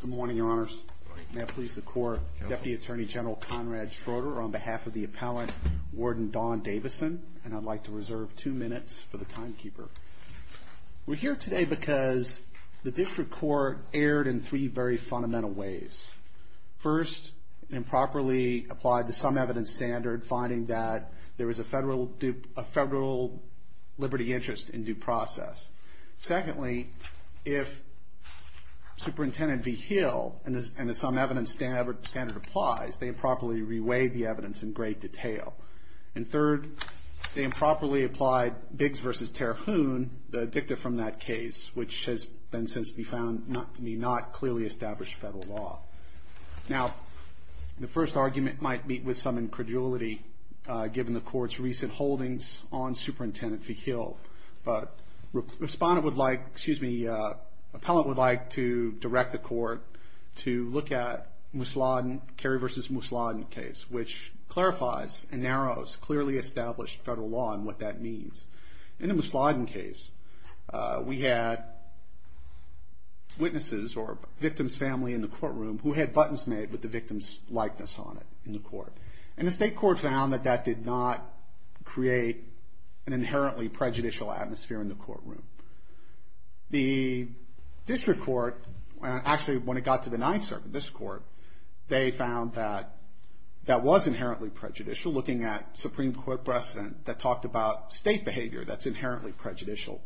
Good morning, Your Honors. May I please the Court, Deputy Attorney General Conrad Schroeder on behalf of the Appellant, Warden Don Davison, and I'd like to reserve two minutes for the timekeeper. We're here today because the District Court erred in three very fundamental ways. First, improperly applied to some evidence standard, finding that there is a federal liberty interest in due process. Secondly, if Superintendent Vigil and some evidence standard applies, they improperly reweighed the evidence in great detail. And third, they improperly applied Biggs v. Terhune, the dicta from that case, which has been since be found to be not clearly established federal law. Now, the first argument might meet with some incredulity, given the Court's recent holdings on Superintendent Vigil. But the Appellant would like to direct the Court to look at Kerry v. Musladen case, which clarifies and narrows clearly established federal law and what that means. In the Musladen case, we had witnesses or victims' family in the courtroom who had buttons made with the victim's likeness on it in the court. And the State Court found that that did not create an inherently prejudicial atmosphere in the courtroom. The District Court, actually when it got to the Ninth Circuit, this Court, they found that that was inherently prejudicial, looking at Supreme Court precedent that talked about State behavior that's inherently prejudicial.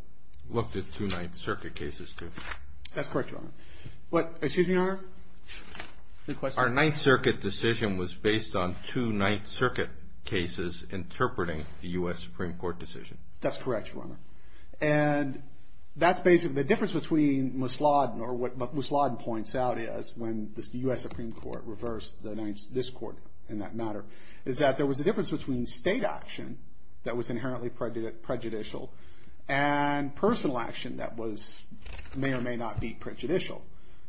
Looked at two Ninth Circuit cases, too. That's correct, Your Honor. Excuse me, Your Honor? Our Ninth Circuit decision was based on two Ninth Circuit cases interpreting the U.S. Supreme Court decision. That's correct, Your Honor. And that's basically the difference between Musladen or what Musladen points out is when the U.S. Supreme Court reversed this Court in that matter, is that there was a difference between State action that was inherently prejudicial and personal action that may or may not be prejudicial.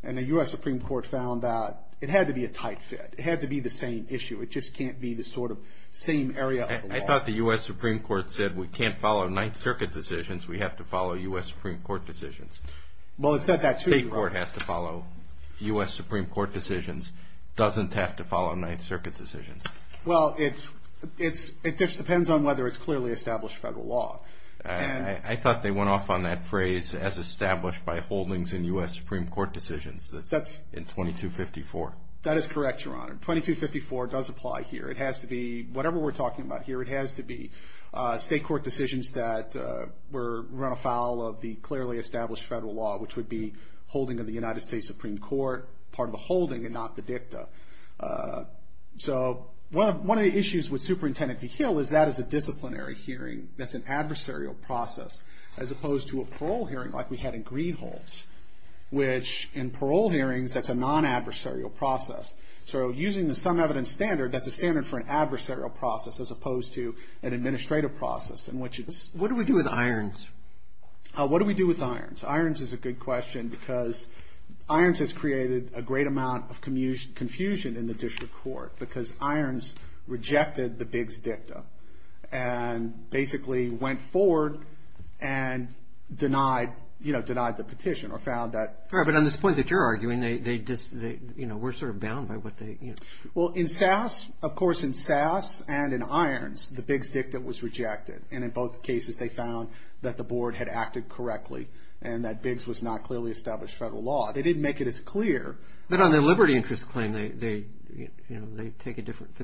And the U.S. Supreme Court found that it had to be a tight fit. It had to be the same issue. It just can't be the sort of same area of the law. I thought the U.S. Supreme Court said we can't follow Ninth Circuit decisions. We have to follow U.S. Supreme Court decisions. Well, it said that, too, Your Honor. State court has to follow U.S. Supreme Court decisions, doesn't have to follow Ninth Circuit decisions. Well, it just depends on whether it's clearly established federal law. I thought they went off on that phrase, as established by holdings in U.S. Supreme Court decisions in 2254. That is correct, Your Honor. 2254 does apply here. It has to be whatever we're talking about here. It has to be state court decisions that were run afoul of the clearly established federal law, which would be holding of the United States Supreme Court part of a holding and not the dicta. So one of the issues with Superintendent v. Hill is that is a disciplinary hearing. That's an adversarial process, as opposed to a parole hearing like we had in Greenhalghs, which in parole hearings, that's a non-adversarial process. So using the sum evidence standard, that's a standard for an adversarial process, as opposed to an administrative process in which it's... What do we do with Irons? What do we do with Irons? Irons is a good question because Irons has created a great amount of confusion in the district court because Irons rejected the Biggs dicta and basically went forward and denied, you know, denied the petition or found that... Well, in SAS, of course, in SAS and in Irons, the Biggs dicta was rejected. And in both cases, they found that the board had acted correctly and that Biggs was not clearly established federal law. They didn't make it as clear. But on the liberty interest claim, they take a different...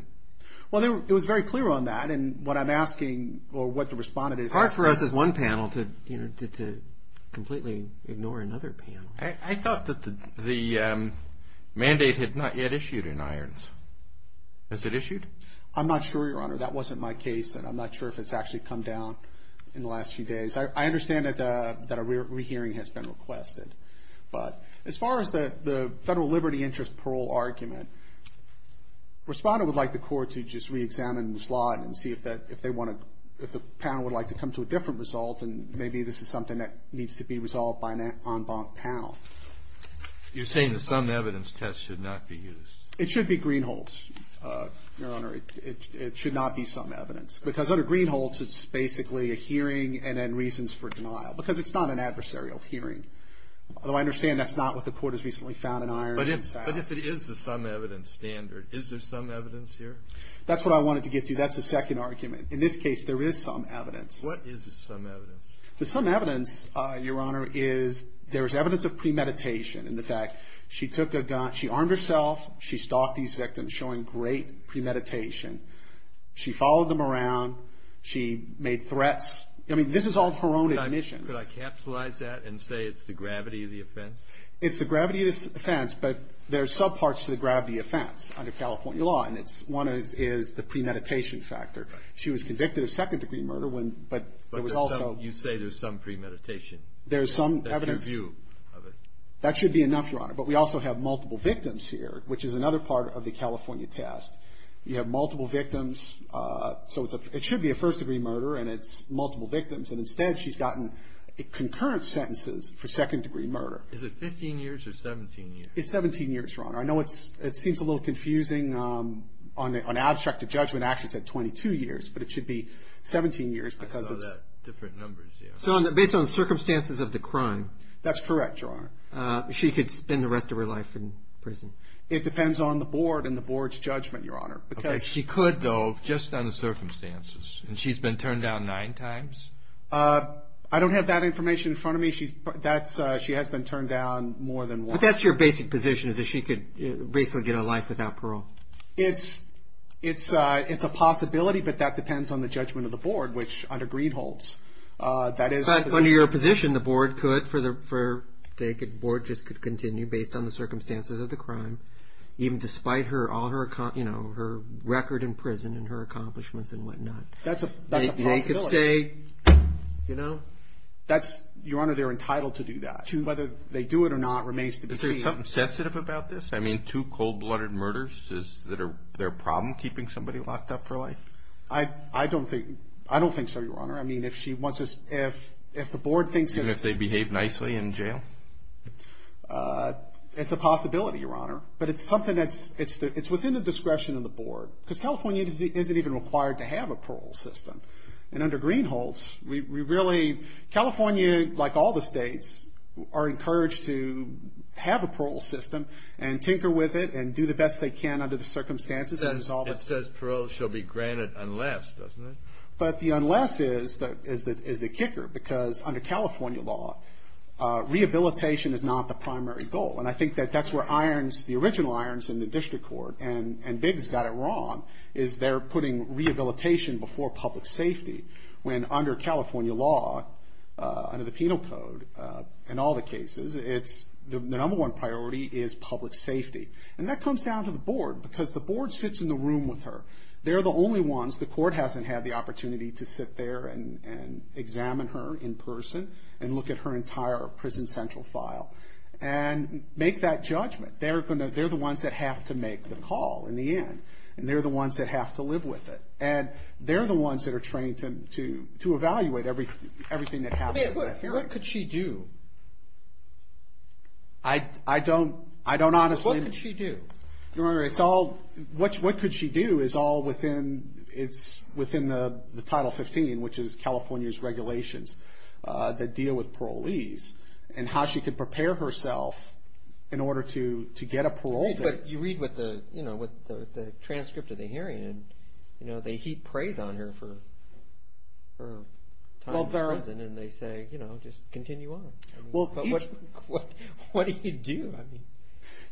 Well, it was very clear on that. And what I'm asking or what the respondent is asking... It's hard for us as one panel to completely ignore another panel. I thought that the mandate had not yet issued in Irons. Has it issued? I'm not sure, Your Honor. That wasn't my case. And I'm not sure if it's actually come down in the last few days. I understand that a rehearing has been requested. But as far as the federal liberty interest parole argument, the respondent would like the court to just reexamine the slot and see if they want to, if the panel would like to come to a different result and maybe this is something that needs to be resolved by an en banc panel. You're saying the some evidence test should not be used. It should be Greenholds, Your Honor. It should not be some evidence. Because under Greenholds, it's basically a hearing and then reasons for denial. Because it's not an adversarial hearing. Although I understand that's not what the court has recently found in Irons. But if it is the some evidence standard, is there some evidence here? That's what I wanted to get to. That's the second argument. In this case, there is some evidence. What is the some evidence? The some evidence, Your Honor, is there is evidence of premeditation. In fact, she took a gun. She armed herself. She stalked these victims, showing great premeditation. She followed them around. She made threats. I mean, this is all her own admissions. Could I capsulize that and say it's the gravity of the offense? It's the gravity of the offense. But there are subparts to the gravity of the offense under California law. And one is the premeditation factor. She was convicted of second-degree murder. But there was also. You say there's some premeditation. There's some evidence. That's your view of it. That should be enough, Your Honor. But we also have multiple victims here, which is another part of the California test. You have multiple victims. So it should be a first-degree murder, and it's multiple victims. And instead, she's gotten concurrent sentences for second-degree murder. Is it 15 years or 17 years? It's 17 years, Your Honor. I know it seems a little confusing on abstract of judgment. It actually said 22 years. But it should be 17 years because it's. I thought that different numbers there. So based on the circumstances of the crime. That's correct, Your Honor. She could spend the rest of her life in prison. It depends on the board and the board's judgment, Your Honor. She could, though, just on the circumstances. And she's been turned down nine times? I don't have that information in front of me. She has been turned down more than once. But that's your basic position, is that she could basically get a life without parole. It's a possibility, but that depends on the judgment of the board, which under Greed holds. But under your position, the board could. The board just could continue based on the circumstances of the crime, even despite her record in prison and her accomplishments and whatnot. That's a possibility. They could say, you know. Your Honor, they're entitled to do that. Whether they do it or not remains to be seen. Is there something sensitive about this? I mean, two cold-blooded murders, is there a problem keeping somebody locked up for life? I don't think so, Your Honor. I mean, if the board thinks that. Even if they behave nicely in jail? It's a possibility, Your Honor. But it's something that's within the discretion of the board. Because California isn't even required to have a parole system. And under Greed holds, we really, California, like all the states, are encouraged to have a parole system and tinker with it and do the best they can under the circumstances. It says parole shall be granted unless, doesn't it? But the unless is the kicker. Because under California law, rehabilitation is not the primary goal. And I think that that's where the original irons in the district court, and Biggs got it wrong, is they're putting rehabilitation before public safety. When under California law, under the penal code, in all the cases, the number one priority is public safety. And that comes down to the board. Because the board sits in the room with her. They're the only ones. The court hasn't had the opportunity to sit there and examine her in person and look at her entire prison central file and make that judgment. They're the ones that have to make the call in the end. And they're the ones that have to live with it. And they're the ones that are trained to evaluate everything that happens. What could she do? I don't honestly. What could she do? What could she do is all within the Title 15, which is California's regulations that deal with parolees, and how she could prepare herself in order to get a parole date. But you read with the transcript of the hearing, and they heap praise on her for her time in prison. And they say, you know, just continue on. But what do you do?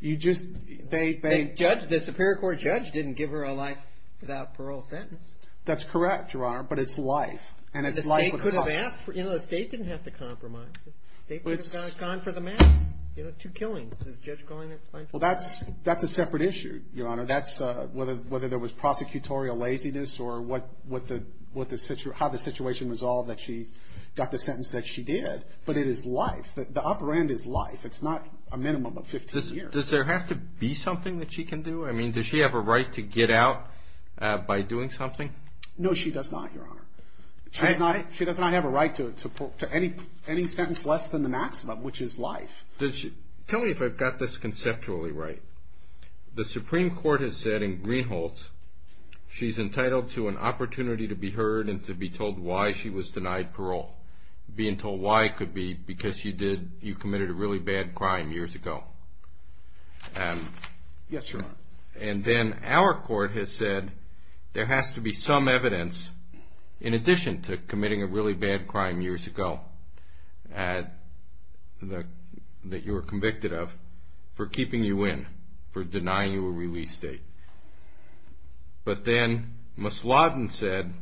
The Superior Court judge didn't give her a life without parole sentence. That's correct, Your Honor, but it's life. You know, the state didn't have to compromise. The state could have gone for the mass, you know, two killings. Well, that's a separate issue, Your Honor. That's whether there was prosecutorial laziness or how the situation was solved that she got the sentence that she did. But it is life. The upper end is life. It's not a minimum of 15 years. Does there have to be something that she can do? I mean, does she have a right to get out by doing something? No, she does not, Your Honor. She does not have a right to any sentence less than the maximum, which is life. Tell me if I've got this conceptually right. The Supreme Court has said in Greenholz, she's entitled to an opportunity to be heard and to be told why she was denied parole. Being told why could be because you committed a really bad crime years ago. Yes, Your Honor. And then our court has said there has to be some evidence, in addition to committing a really bad crime years ago that you were convicted of, for keeping you in, for denying you a release date. But then Ms. Lawton said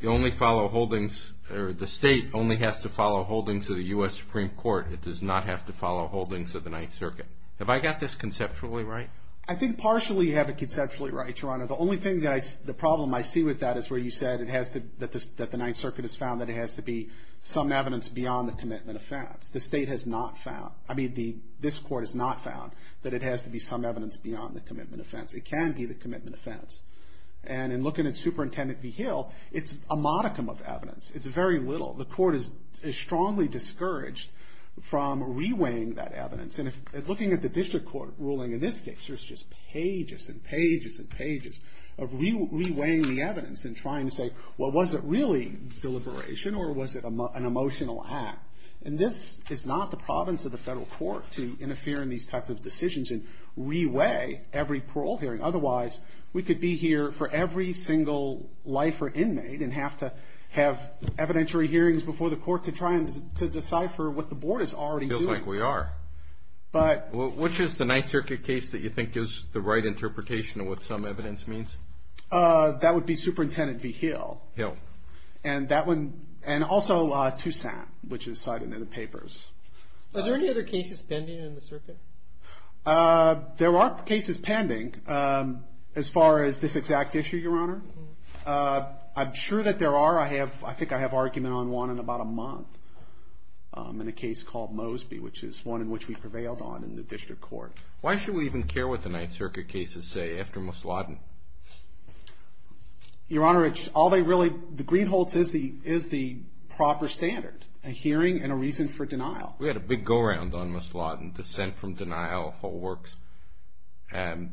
the state only has to follow holdings of the U.S. Supreme Court. It does not have to follow holdings of the Ninth Circuit. Have I got this conceptually right? I think partially you have it conceptually right, Your Honor. The only thing, the problem I see with that is where you said that the Ninth Circuit has found that it has to be some evidence beyond the commitment offense. The state has not found, I mean, this court has not found that it has to be some evidence beyond the commitment offense. It can be the commitment offense. And in looking at Superintendent V. Hill, it's a modicum of evidence. It's very little. The court is strongly discouraged from reweighing that evidence. And looking at the district court ruling in this case, there's just pages and pages and pages of reweighing the evidence and trying to say, well, was it really deliberation or was it an emotional act? And this is not the province of the federal court to interfere in these types of decisions and reweigh every parole hearing. Otherwise, we could be here for every single life or inmate and have to have evidentiary hearings before the court to try and decipher what the board is already doing. I think we are. But which is the Ninth Circuit case that you think is the right interpretation of what some evidence means? That would be Superintendent V. Hill. Hill. And that one, and also Toussaint, which is cited in the papers. Are there any other cases pending in the circuit? There are cases pending as far as this exact issue, Your Honor. I'm sure that there are. However, I think I have argument on one in about a month in a case called Mosby, which is one in which we prevailed on in the district court. Why should we even care what the Ninth Circuit cases say after Ms. Lawton? Your Honor, all they really, the Greenholts is the proper standard, a hearing and a reason for denial. We had a big go-round on Ms. Lawton, dissent from denial, whole works. And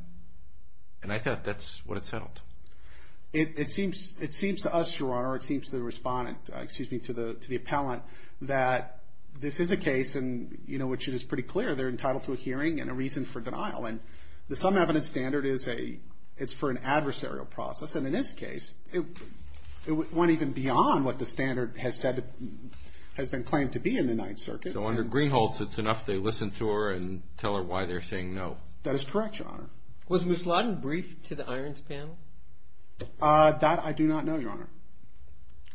I thought that's what it settled. It seems to us, Your Honor, it seems to the respondent, excuse me, to the appellant, that this is a case in which it is pretty clear they're entitled to a hearing and a reason for denial. And the some evidence standard is for an adversarial process. And in this case, it went even beyond what the standard has said, has been claimed to be in the Ninth Circuit. So under Greenholts, it's enough they listen to her That is correct, Your Honor. Was Ms. Lawton briefed to the Irons panel? That I do not know, Your Honor.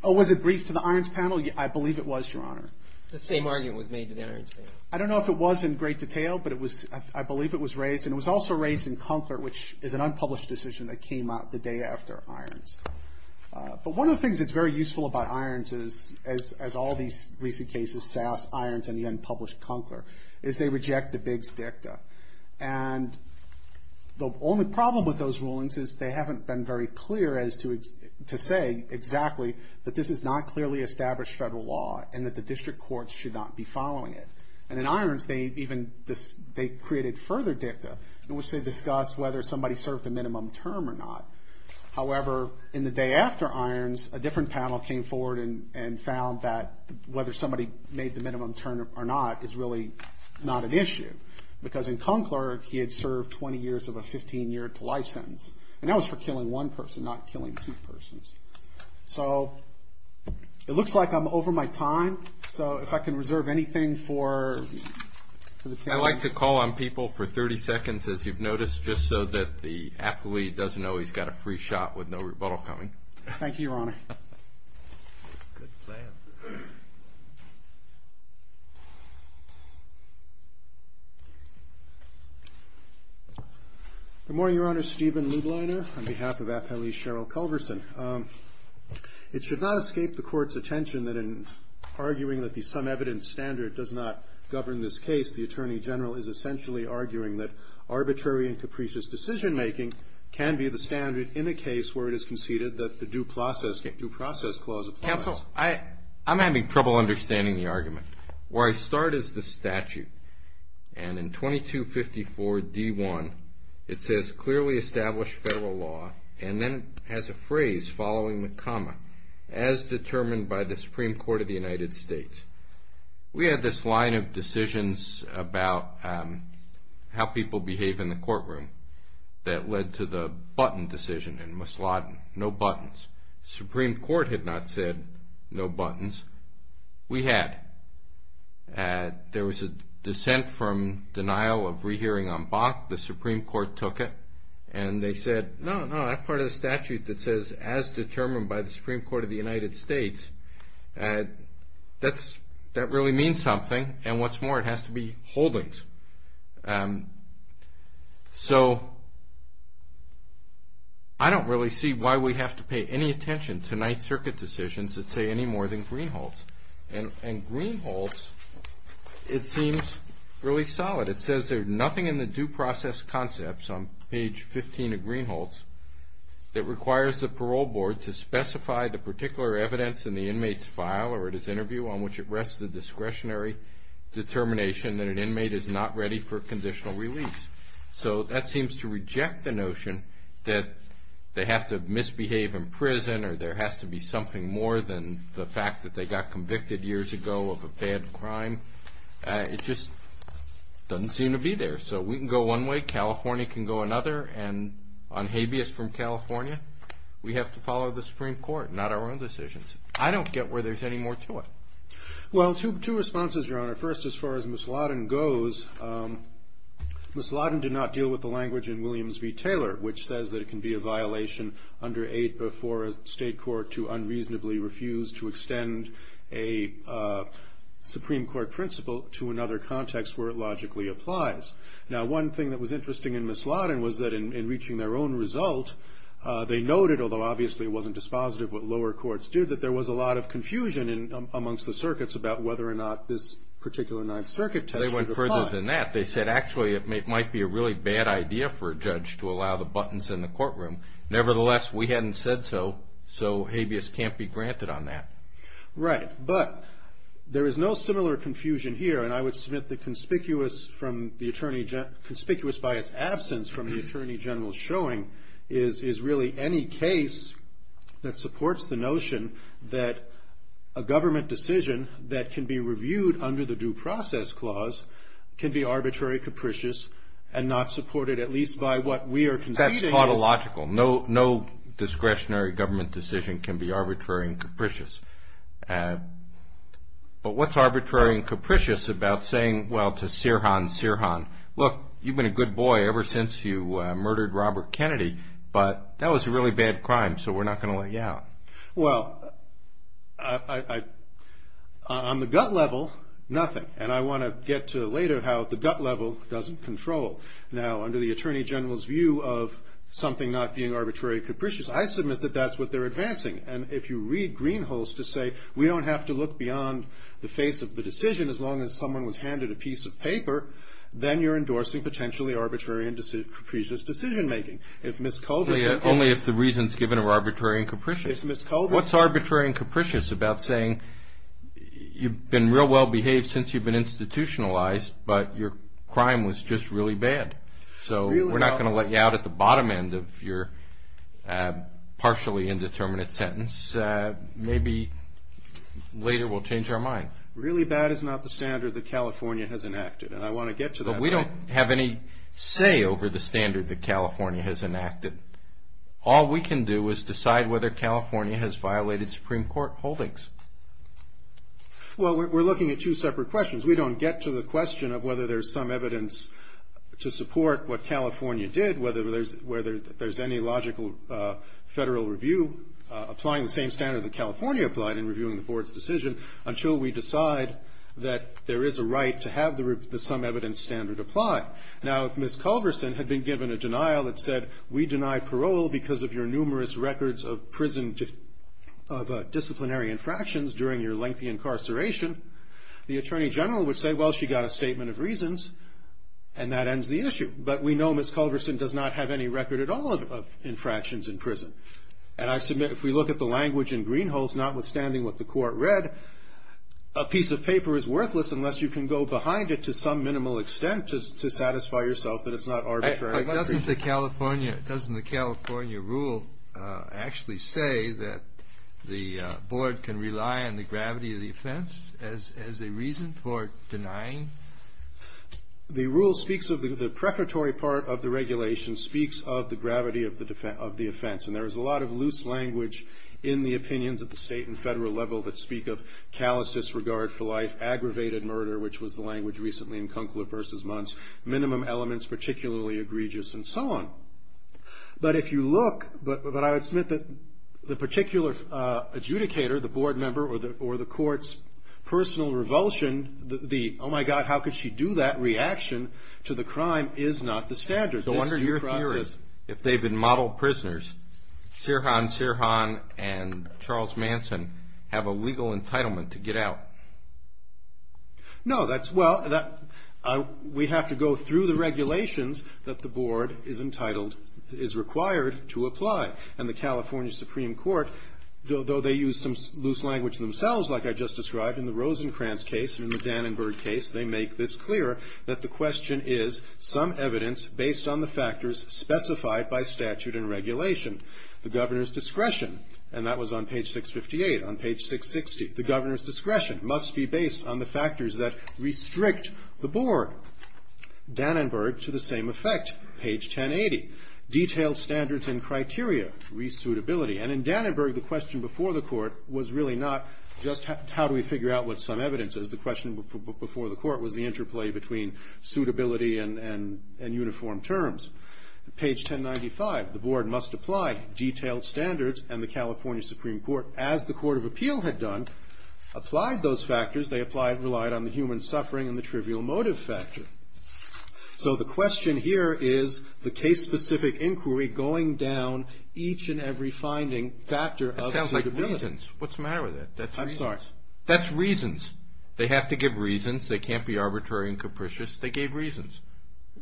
Oh, was it briefed to the Irons panel? I believe it was, Your Honor. The same argument was made to the Irons panel. I don't know if it was in great detail, but I believe it was raised. And it was also raised in Conkler, which is an unpublished decision that came out the day after Irons. But one of the things that's very useful about Irons is, as all these recent cases, Sass, Irons, and the unpublished Conkler, is they reject the bigs dicta. And the only problem with those rulings is they haven't been very clear as to say exactly that this is not clearly established federal law and that the district courts should not be following it. And in Irons, they even created further dicta, in which they discussed whether somebody served a minimum term or not. However, in the day after Irons, a different panel came forward and found that whether somebody made the minimum term or not is really not an issue. Because in Conkler, he had served 20 years of a 15-year-to-life sentence. And that was for killing one person, not killing two persons. So it looks like I'm over my time. So if I can reserve anything for the panel. I like to call on people for 30 seconds, as you've noticed, just so that the athlete doesn't know he's got a free shot with no rebuttal coming. Thank you, Your Honor. Good plan. Good morning, Your Honor. Stephen Lubliner on behalf of Appellee Cheryl Culverson. It should not escape the Court's attention that in arguing that the sum evidence standard does not govern this case, the Attorney General is essentially arguing that arbitrary and capricious decision-making can be the standard in a case where it is conceded that the due process clause applies. Counsel, I'm having trouble understanding the argument. Where I start is the statute. And in 2254d1, it says, clearly established federal law and then has a phrase following the comma, as determined by the Supreme Court of the United States. We had this line of decisions about how people behave in the courtroom that led to the button decision in Masladen, no buttons. The Supreme Court had not said no buttons. We had. There was a dissent from denial of rehearing en banc. The Supreme Court took it. And they said, no, no, that part of the statute that says, as determined by the Supreme Court of the United States, that really means something. And what's more, it has to be holdings. So I don't really see why we have to pay any attention to Ninth Circuit decisions that say any more than Greenhalghs. And Greenhalghs, it seems really solid. It says there's nothing in the due process concepts on page 15 of Greenhalghs that requires the parole board to specify the particular evidence in the inmate's file or at his interview on which it rests the discretionary determination that an inmate is not ready for conditional release. So that seems to reject the notion that they have to misbehave in prison or there has to be something more than the fact that they got convicted years ago of a bad crime. It just doesn't seem to be there. So we can go one way. California can go another. And on habeas from California, we have to follow the Supreme Court, not our own decisions. I don't get where there's any more to it. Well, two responses, Your Honor. First, as far as Ms. Lawton goes, Ms. Lawton did not deal with the language in Williams v. Taylor, which says that it can be a violation under 8 before a state court to unreasonably refuse to extend a Supreme Court principle to another context where it logically applies. Now, one thing that was interesting in Ms. Lawton was that in reaching their own result, they noted, although obviously it wasn't dispositive what lower courts did, that there was a lot of confusion amongst the circuits about whether or not this particular Ninth Circuit test should apply. They went further than that. They said, actually, it might be a really bad idea for a judge to allow the buttons in the courtroom. Nevertheless, we hadn't said so, so habeas can't be granted on that. Right, but there is no similar confusion here. And I would submit that conspicuous by its absence from the Attorney General's showing is really any case that supports the notion that a government decision that can be reviewed under the Due Process Clause can be arbitrary, capricious, and not supported at least by what we are conceding. That's tautological. No discretionary government decision can be arbitrary and capricious. But what's arbitrary and capricious about saying, well, to Sirhan, Sirhan, look, you've been a good boy ever since you murdered Robert Kennedy, but that was a really bad crime, so we're not going to let you out. Well, on the gut level, nothing. And I want to get to later how the gut level doesn't control. Now, under the Attorney General's view of something not being arbitrary and capricious, I submit that that's what they're advancing. And if you read Greenhalgh's to say we don't have to look beyond the face of the decision as long as someone was handed a piece of paper, then you're endorsing potentially arbitrary and capricious decision-making. Only if the reasons given are arbitrary and capricious. What's arbitrary and capricious about saying you've been real well behaved since you've been institutionalized, but your crime was just really bad? So we're not going to let you out at the bottom end of your partially indeterminate sentence. Maybe later we'll change our mind. Really bad is not the standard that California has enacted, and I want to get to that. We don't have any say over the standard that California has enacted. All we can do is decide whether California has violated Supreme Court holdings. Well, we're looking at two separate questions. We don't get to the question of whether there's some evidence to support what California did, whether there's any logical federal review applying the same standard that California applied in reviewing the board's decision until we decide that there is a right to have the some evidence standard apply. Now, if Ms. Culverson had been given a denial that said, we deny parole because of your numerous records of disciplinary infractions during your lengthy incarceration, the attorney general would say, well, she got a statement of reasons, and that ends the issue. But we know Ms. Culverson does not have any record at all of infractions in prison. And I submit if we look at the language in Greenhalghs, notwithstanding what the court read, a piece of paper is worthless unless you can go behind it to some minimal extent to satisfy yourself that it's not arbitrary. But doesn't the California rule actually say that the board can rely on the gravity of the offense as a reason for denying? The rule speaks of the prefatory part of the regulation speaks of the gravity of the offense. And there is a lot of loose language in the opinions at the state and federal level that speak of callous disregard for life, aggravated murder, which was the language recently in Kunkel versus Muntz, minimum elements particularly egregious, and so on. But if you look, but I would submit that the particular adjudicator, the board member or the court's personal revulsion, the oh, my God, how could she do that reaction to the crime is not the standard. So under your theories, if they've been model prisoners, Sirhan, Sirhan and Charles Manson have a legal entitlement to get out. No, that's well, we have to go through the regulations that the board is entitled, is required to apply. And the California Supreme Court, though they use some loose language themselves, like I just described, in the Rosenkranz case and in the Dannenberg case, they make this clear that the question is some evidence based on the factors specified by statute and regulation. The governor's discretion, and that was on page 658, on page 660, the governor's discretion must be based on the factors that restrict the board. Dannenberg, to the same effect, page 1080, detailed standards and criteria, resuitability. And in Dannenberg, the question before the court was really not just how do we figure out what some evidence is. The question before the court was the interplay between suitability and uniform terms. Page 1095, the board must apply detailed standards, and the California Supreme Court, as the Court of Appeal had done, applied those factors. They applied and relied on the human suffering and the trivial motive factor. So the question here is the case-specific inquiry going down each and every finding factor of suitability. That sounds like reasons. What's the matter with that? I'm sorry. That's reasons. They have to give reasons. They can't be arbitrary and capricious. They gave reasons.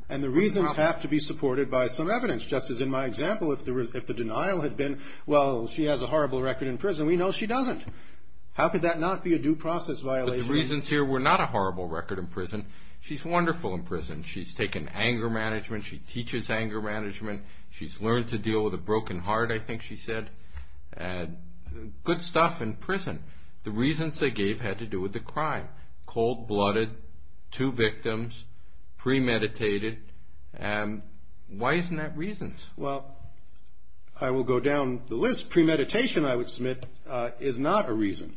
And the reasons have to be supported by some evidence. Just as in my example, if the denial had been, well, she has a horrible record in prison. We know she doesn't. How could that not be a due process violation? The reasons here were not a horrible record in prison. She's wonderful in prison. She's taken anger management. She teaches anger management. She's learned to deal with a broken heart, I think she said. Good stuff in prison. The reasons they gave had to do with the crime. Cold-blooded, two victims, premeditated. And why isn't that reasons? Well, I will go down the list. Premeditation, I would submit, is not a reason.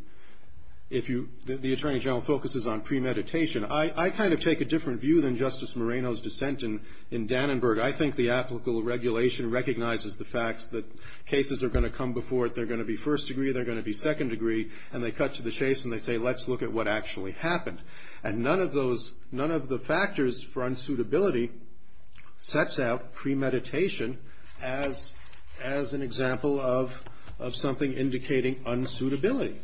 The Attorney General focuses on premeditation. I kind of take a different view than Justice Moreno's dissent in Dannenberg. I think the applicable regulation recognizes the fact that cases are going to come before it. They're going to be first degree. They're going to be second degree. And they cut to the chase and they say, let's look at what actually happened. And none of the factors for unsuitability sets out premeditation as an example of something indicating unsuitability.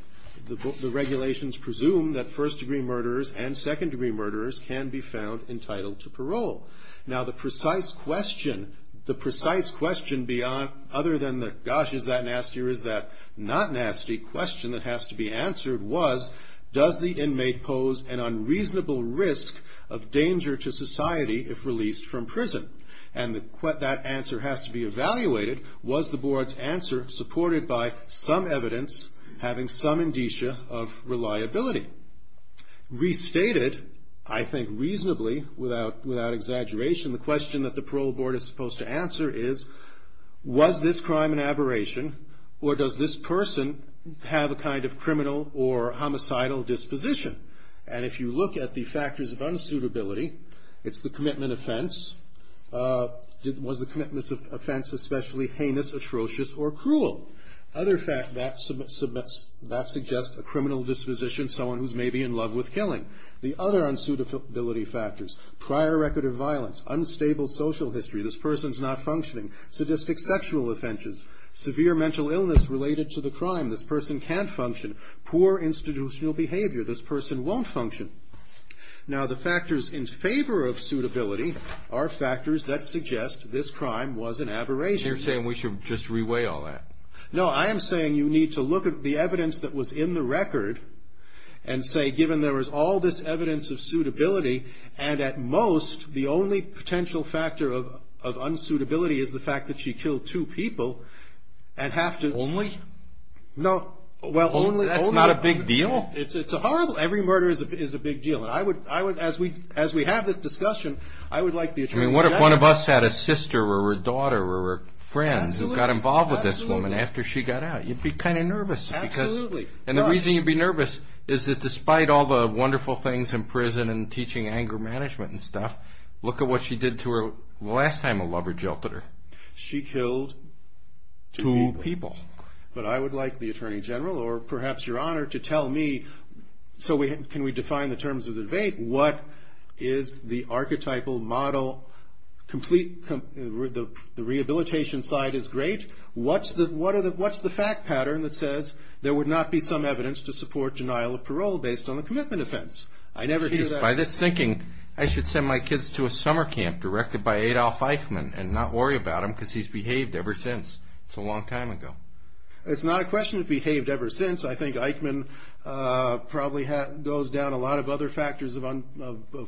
The regulations presume that first degree murderers and second degree murderers can be found entitled to parole. Now, the precise question beyond other than the gosh, is that nasty or is that not nasty question that has to be answered was, does the inmate pose an unreasonable risk of danger to society if released from prison? And that answer has to be evaluated. Was the board's answer supported by some evidence having some indicia of reliability? Restated, I think reasonably, without exaggeration, the question that the parole board is supposed to answer is, was this crime an aberration or does this person have a kind of criminal or homicidal disposition? And if you look at the factors of unsuitability, it's the commitment offense. Was the commitment offense especially heinous, atrocious, or cruel? Other fact that suggests a criminal disposition, someone who's maybe in love with killing. The other unsuitability factors, prior record of violence, unstable social history, this person's not functioning, sadistic sexual offenses, severe mental illness related to the crime, this person can't function, poor institutional behavior, this person won't function. Now, the factors in favor of suitability are factors that suggest this crime was an aberration. So you're saying we should just reweigh all that? No, I am saying you need to look at the evidence that was in the record and say, given there was all this evidence of suitability, and at most, the only potential factor of unsuitability is the fact that she killed two people, and have to. Only? No. Well, only. That's not a big deal? It's a horrible. Every murder is a big deal. And I would, as we have this discussion, I would like the attorney to. I mean, what if one of us had a sister or a daughter or a friend who got involved with this woman after she got out? You'd be kind of nervous. Absolutely. And the reason you'd be nervous is that despite all the wonderful things in prison and teaching anger management and stuff, look at what she did to her last time a lover jilted her. She killed two people. But I would like the attorney general, or perhaps your honor, to tell me, so can we define the terms of the debate? What is the archetypal model? The rehabilitation side is great. What's the fact pattern that says there would not be some evidence to support denial of parole based on a commitment offense? I never hear that. By this thinking, I should send my kids to a summer camp directed by Adolph Eichmann and not worry about him because he's behaved ever since. It's a long time ago. It's not a question of behaved ever since. I think Eichmann probably goes down a lot of other factors of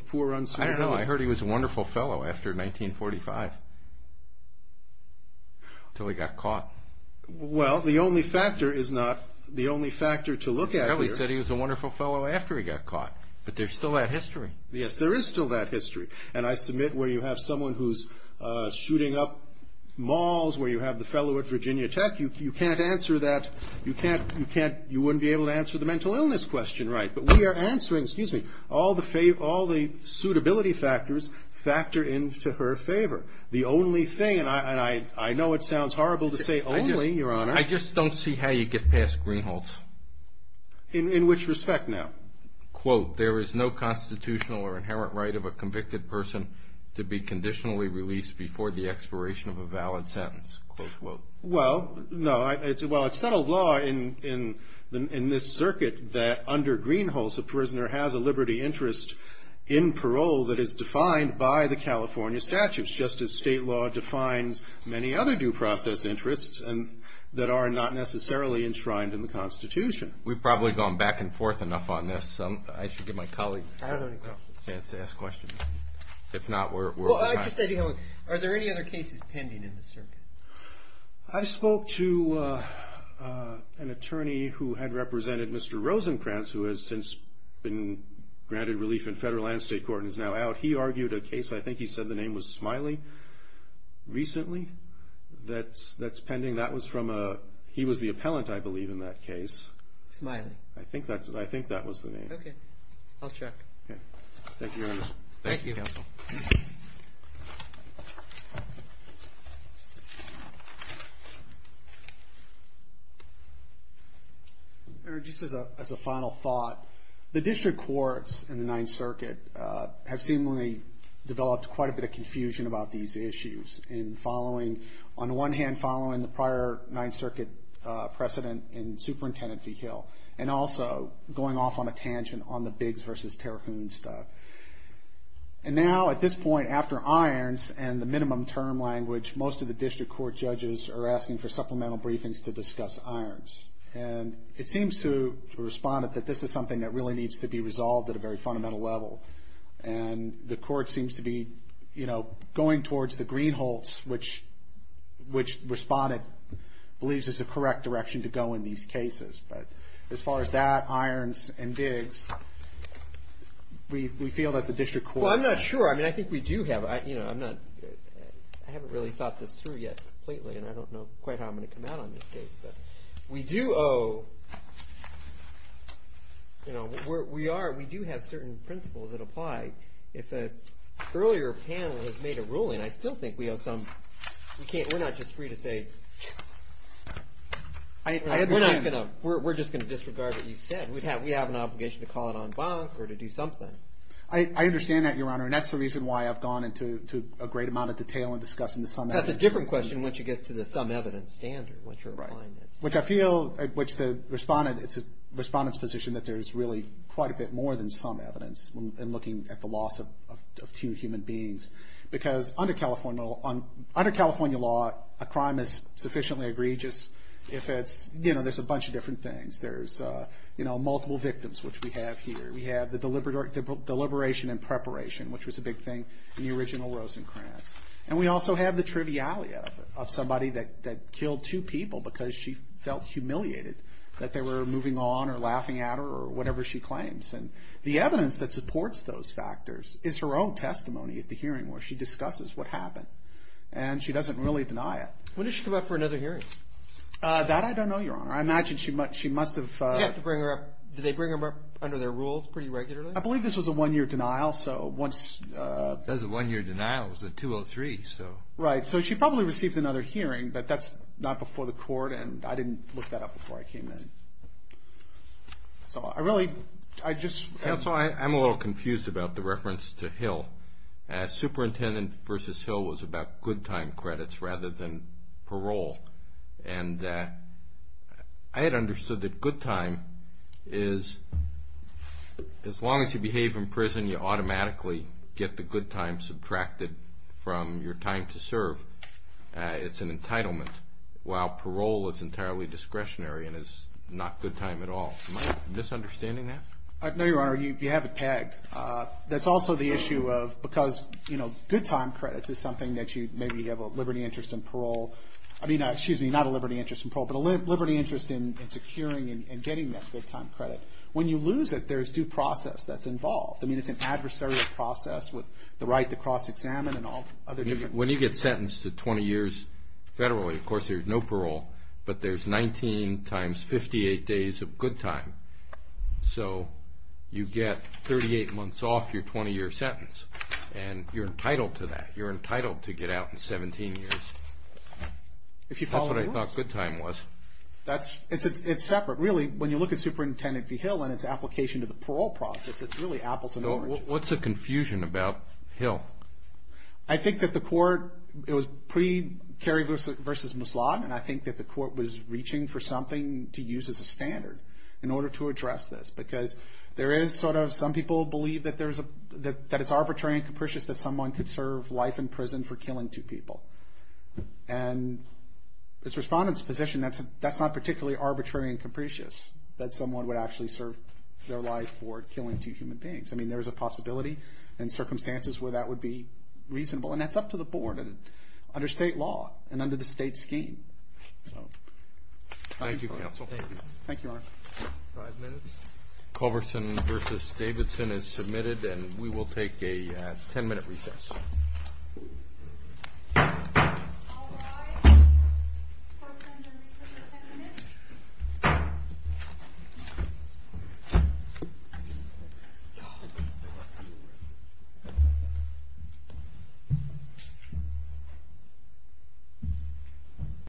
poor uncertainty. I don't know. I heard he was a wonderful fellow after 1945 until he got caught. Well, the only factor is not the only factor to look at here. He probably said he was a wonderful fellow after he got caught. But there's still that history. Yes, there is still that history. And I submit where you have someone who's shooting up malls, where you have the fellow at Virginia Tech, you can't answer that, you wouldn't be able to answer the mental illness question right. But we are answering, excuse me, all the suitability factors factor into her favor. The only thing, and I know it sounds horrible to say only, Your Honor. I just don't see how you get past Greenhalgh's. In which respect now? Quote, there is no constitutional or inherent right of a convicted person to be conditionally released before the expiration of a valid sentence. Quote, quote. Well, no. Well, it's settled law in this circuit that under Greenhalgh's, a prisoner has a liberty interest in parole that is defined by the California statutes, just as state law defines many other due process interests that are not necessarily enshrined in the Constitution. We've probably gone back and forth enough on this. I should give my colleagues a chance to ask questions. If not, we're out of time. Are there any other cases pending in this circuit? I spoke to an attorney who had represented Mr. Rosenkranz, who has since been granted relief in federal and state court and is now out. He argued a case, I think he said the name was Smiley, recently, that's pending. That was from a, he was the appellant, I believe, in that case. Smiley. I think that was the name. Okay. I'll check. Okay. Thank you, Your Honor. Thank you. Just as a final thought, the district courts in the Ninth Circuit have seemingly developed quite a bit of confusion about these issues. In following, on one hand, following the prior Ninth Circuit precedent in Superintendent Vigil and also going off on a tangent on the Biggs v. Terhune stuff. And now, at this point, after Irons and the minimum term language, most of the district court judges are asking for supplemental briefings to discuss Irons. And it seems to the respondent that this is something that really needs to be resolved at a very fundamental level. And the court seems to be, you know, going towards the greenholts, which the respondent believes is the correct direction to go in these cases. But as far as that, Irons, and Biggs, we feel that the district court. Well, I'm not sure. I mean, I think we do have, you know, I'm not, I haven't really thought this through yet completely, and I don't know quite how I'm going to come out on this case. But we do owe, you know, we are, we do have certain principles that apply. If an earlier panel has made a ruling, I still think we owe some. We can't, we're not just free to say. We're not going to, we're just going to disregard what you said. We have an obligation to call it en banc or to do something. I understand that, Your Honor, and that's the reason why I've gone into a great amount of detail in discussing the sum evidence. That's a different question once you get to the sum evidence standard, once you're applying it. Which I feel, which the respondent, it's the respondent's position that there's really quite a bit more than sum evidence in looking at the loss of two human beings. Because under California law, a crime is sufficiently egregious if it's, you know, there's a bunch of different things. There's, you know, multiple victims, which we have here. We have the deliberation and preparation, which was a big thing in the original Rosencrantz. And we also have the triviality of it, of somebody that killed two people because she felt humiliated that they were moving on or laughing at her or whatever she claims. And the evidence that supports those factors is her own testimony at the hearing where she discusses what happened. And she doesn't really deny it. When did she come up for another hearing? That I don't know, Your Honor. I imagine she must have. Did they bring her up under their rules pretty regularly? I believe this was a one-year denial, so once. That was a one-year denial. It was a 203, so. Right. So she probably received another hearing, but that's not before the court. And I didn't look that up before I came in. So I really, I just. Counsel, I'm a little confused about the reference to Hill. Superintendent versus Hill was about good time credits rather than parole. And I had understood that good time is as long as you behave in prison, you automatically get the good time subtracted from your time to serve. It's an entitlement, while parole is entirely discretionary and is not good time at all. Am I misunderstanding that? No, Your Honor. You have it pegged. That's also the issue of because, you know, good time credits is something that you maybe have a liberty interest in parole. I mean, excuse me, not a liberty interest in parole, but a liberty interest in securing and getting that good time credit. When you lose it, there's due process that's involved. I mean, it's an adversarial process with the right to cross-examine and all other different. When you get sentenced to 20 years federally, of course, there's no parole, but there's 19 times 58 days of good time. So you get 38 months off your 20-year sentence, and you're entitled to that. You're entitled to get out in 17 years. That's what I thought good time was. It's separate. Really, when you look at Superintendent v. Hill and its application to the parole process, it's really apples and oranges. What's the confusion about Hill? I think that the court, it was pre-Kerry v. Muslott, and I think that the court was reaching for something to use as a standard in order to address this. Because there is sort of, some people believe that it's arbitrary and capricious that someone could serve life in prison for killing two people. And as a respondent's position, that's not particularly arbitrary and capricious, that someone would actually serve their life for killing two human beings. I mean, there is a possibility and circumstances where that would be reasonable, and that's up to the board and under state law and under the state scheme. Thank you, counsel. Thank you. Thank you, Your Honor. Five minutes. Culverson v. Davidson is submitted, and we will take a 10-minute recess. All rise. Culverson v. Davidson is submitted.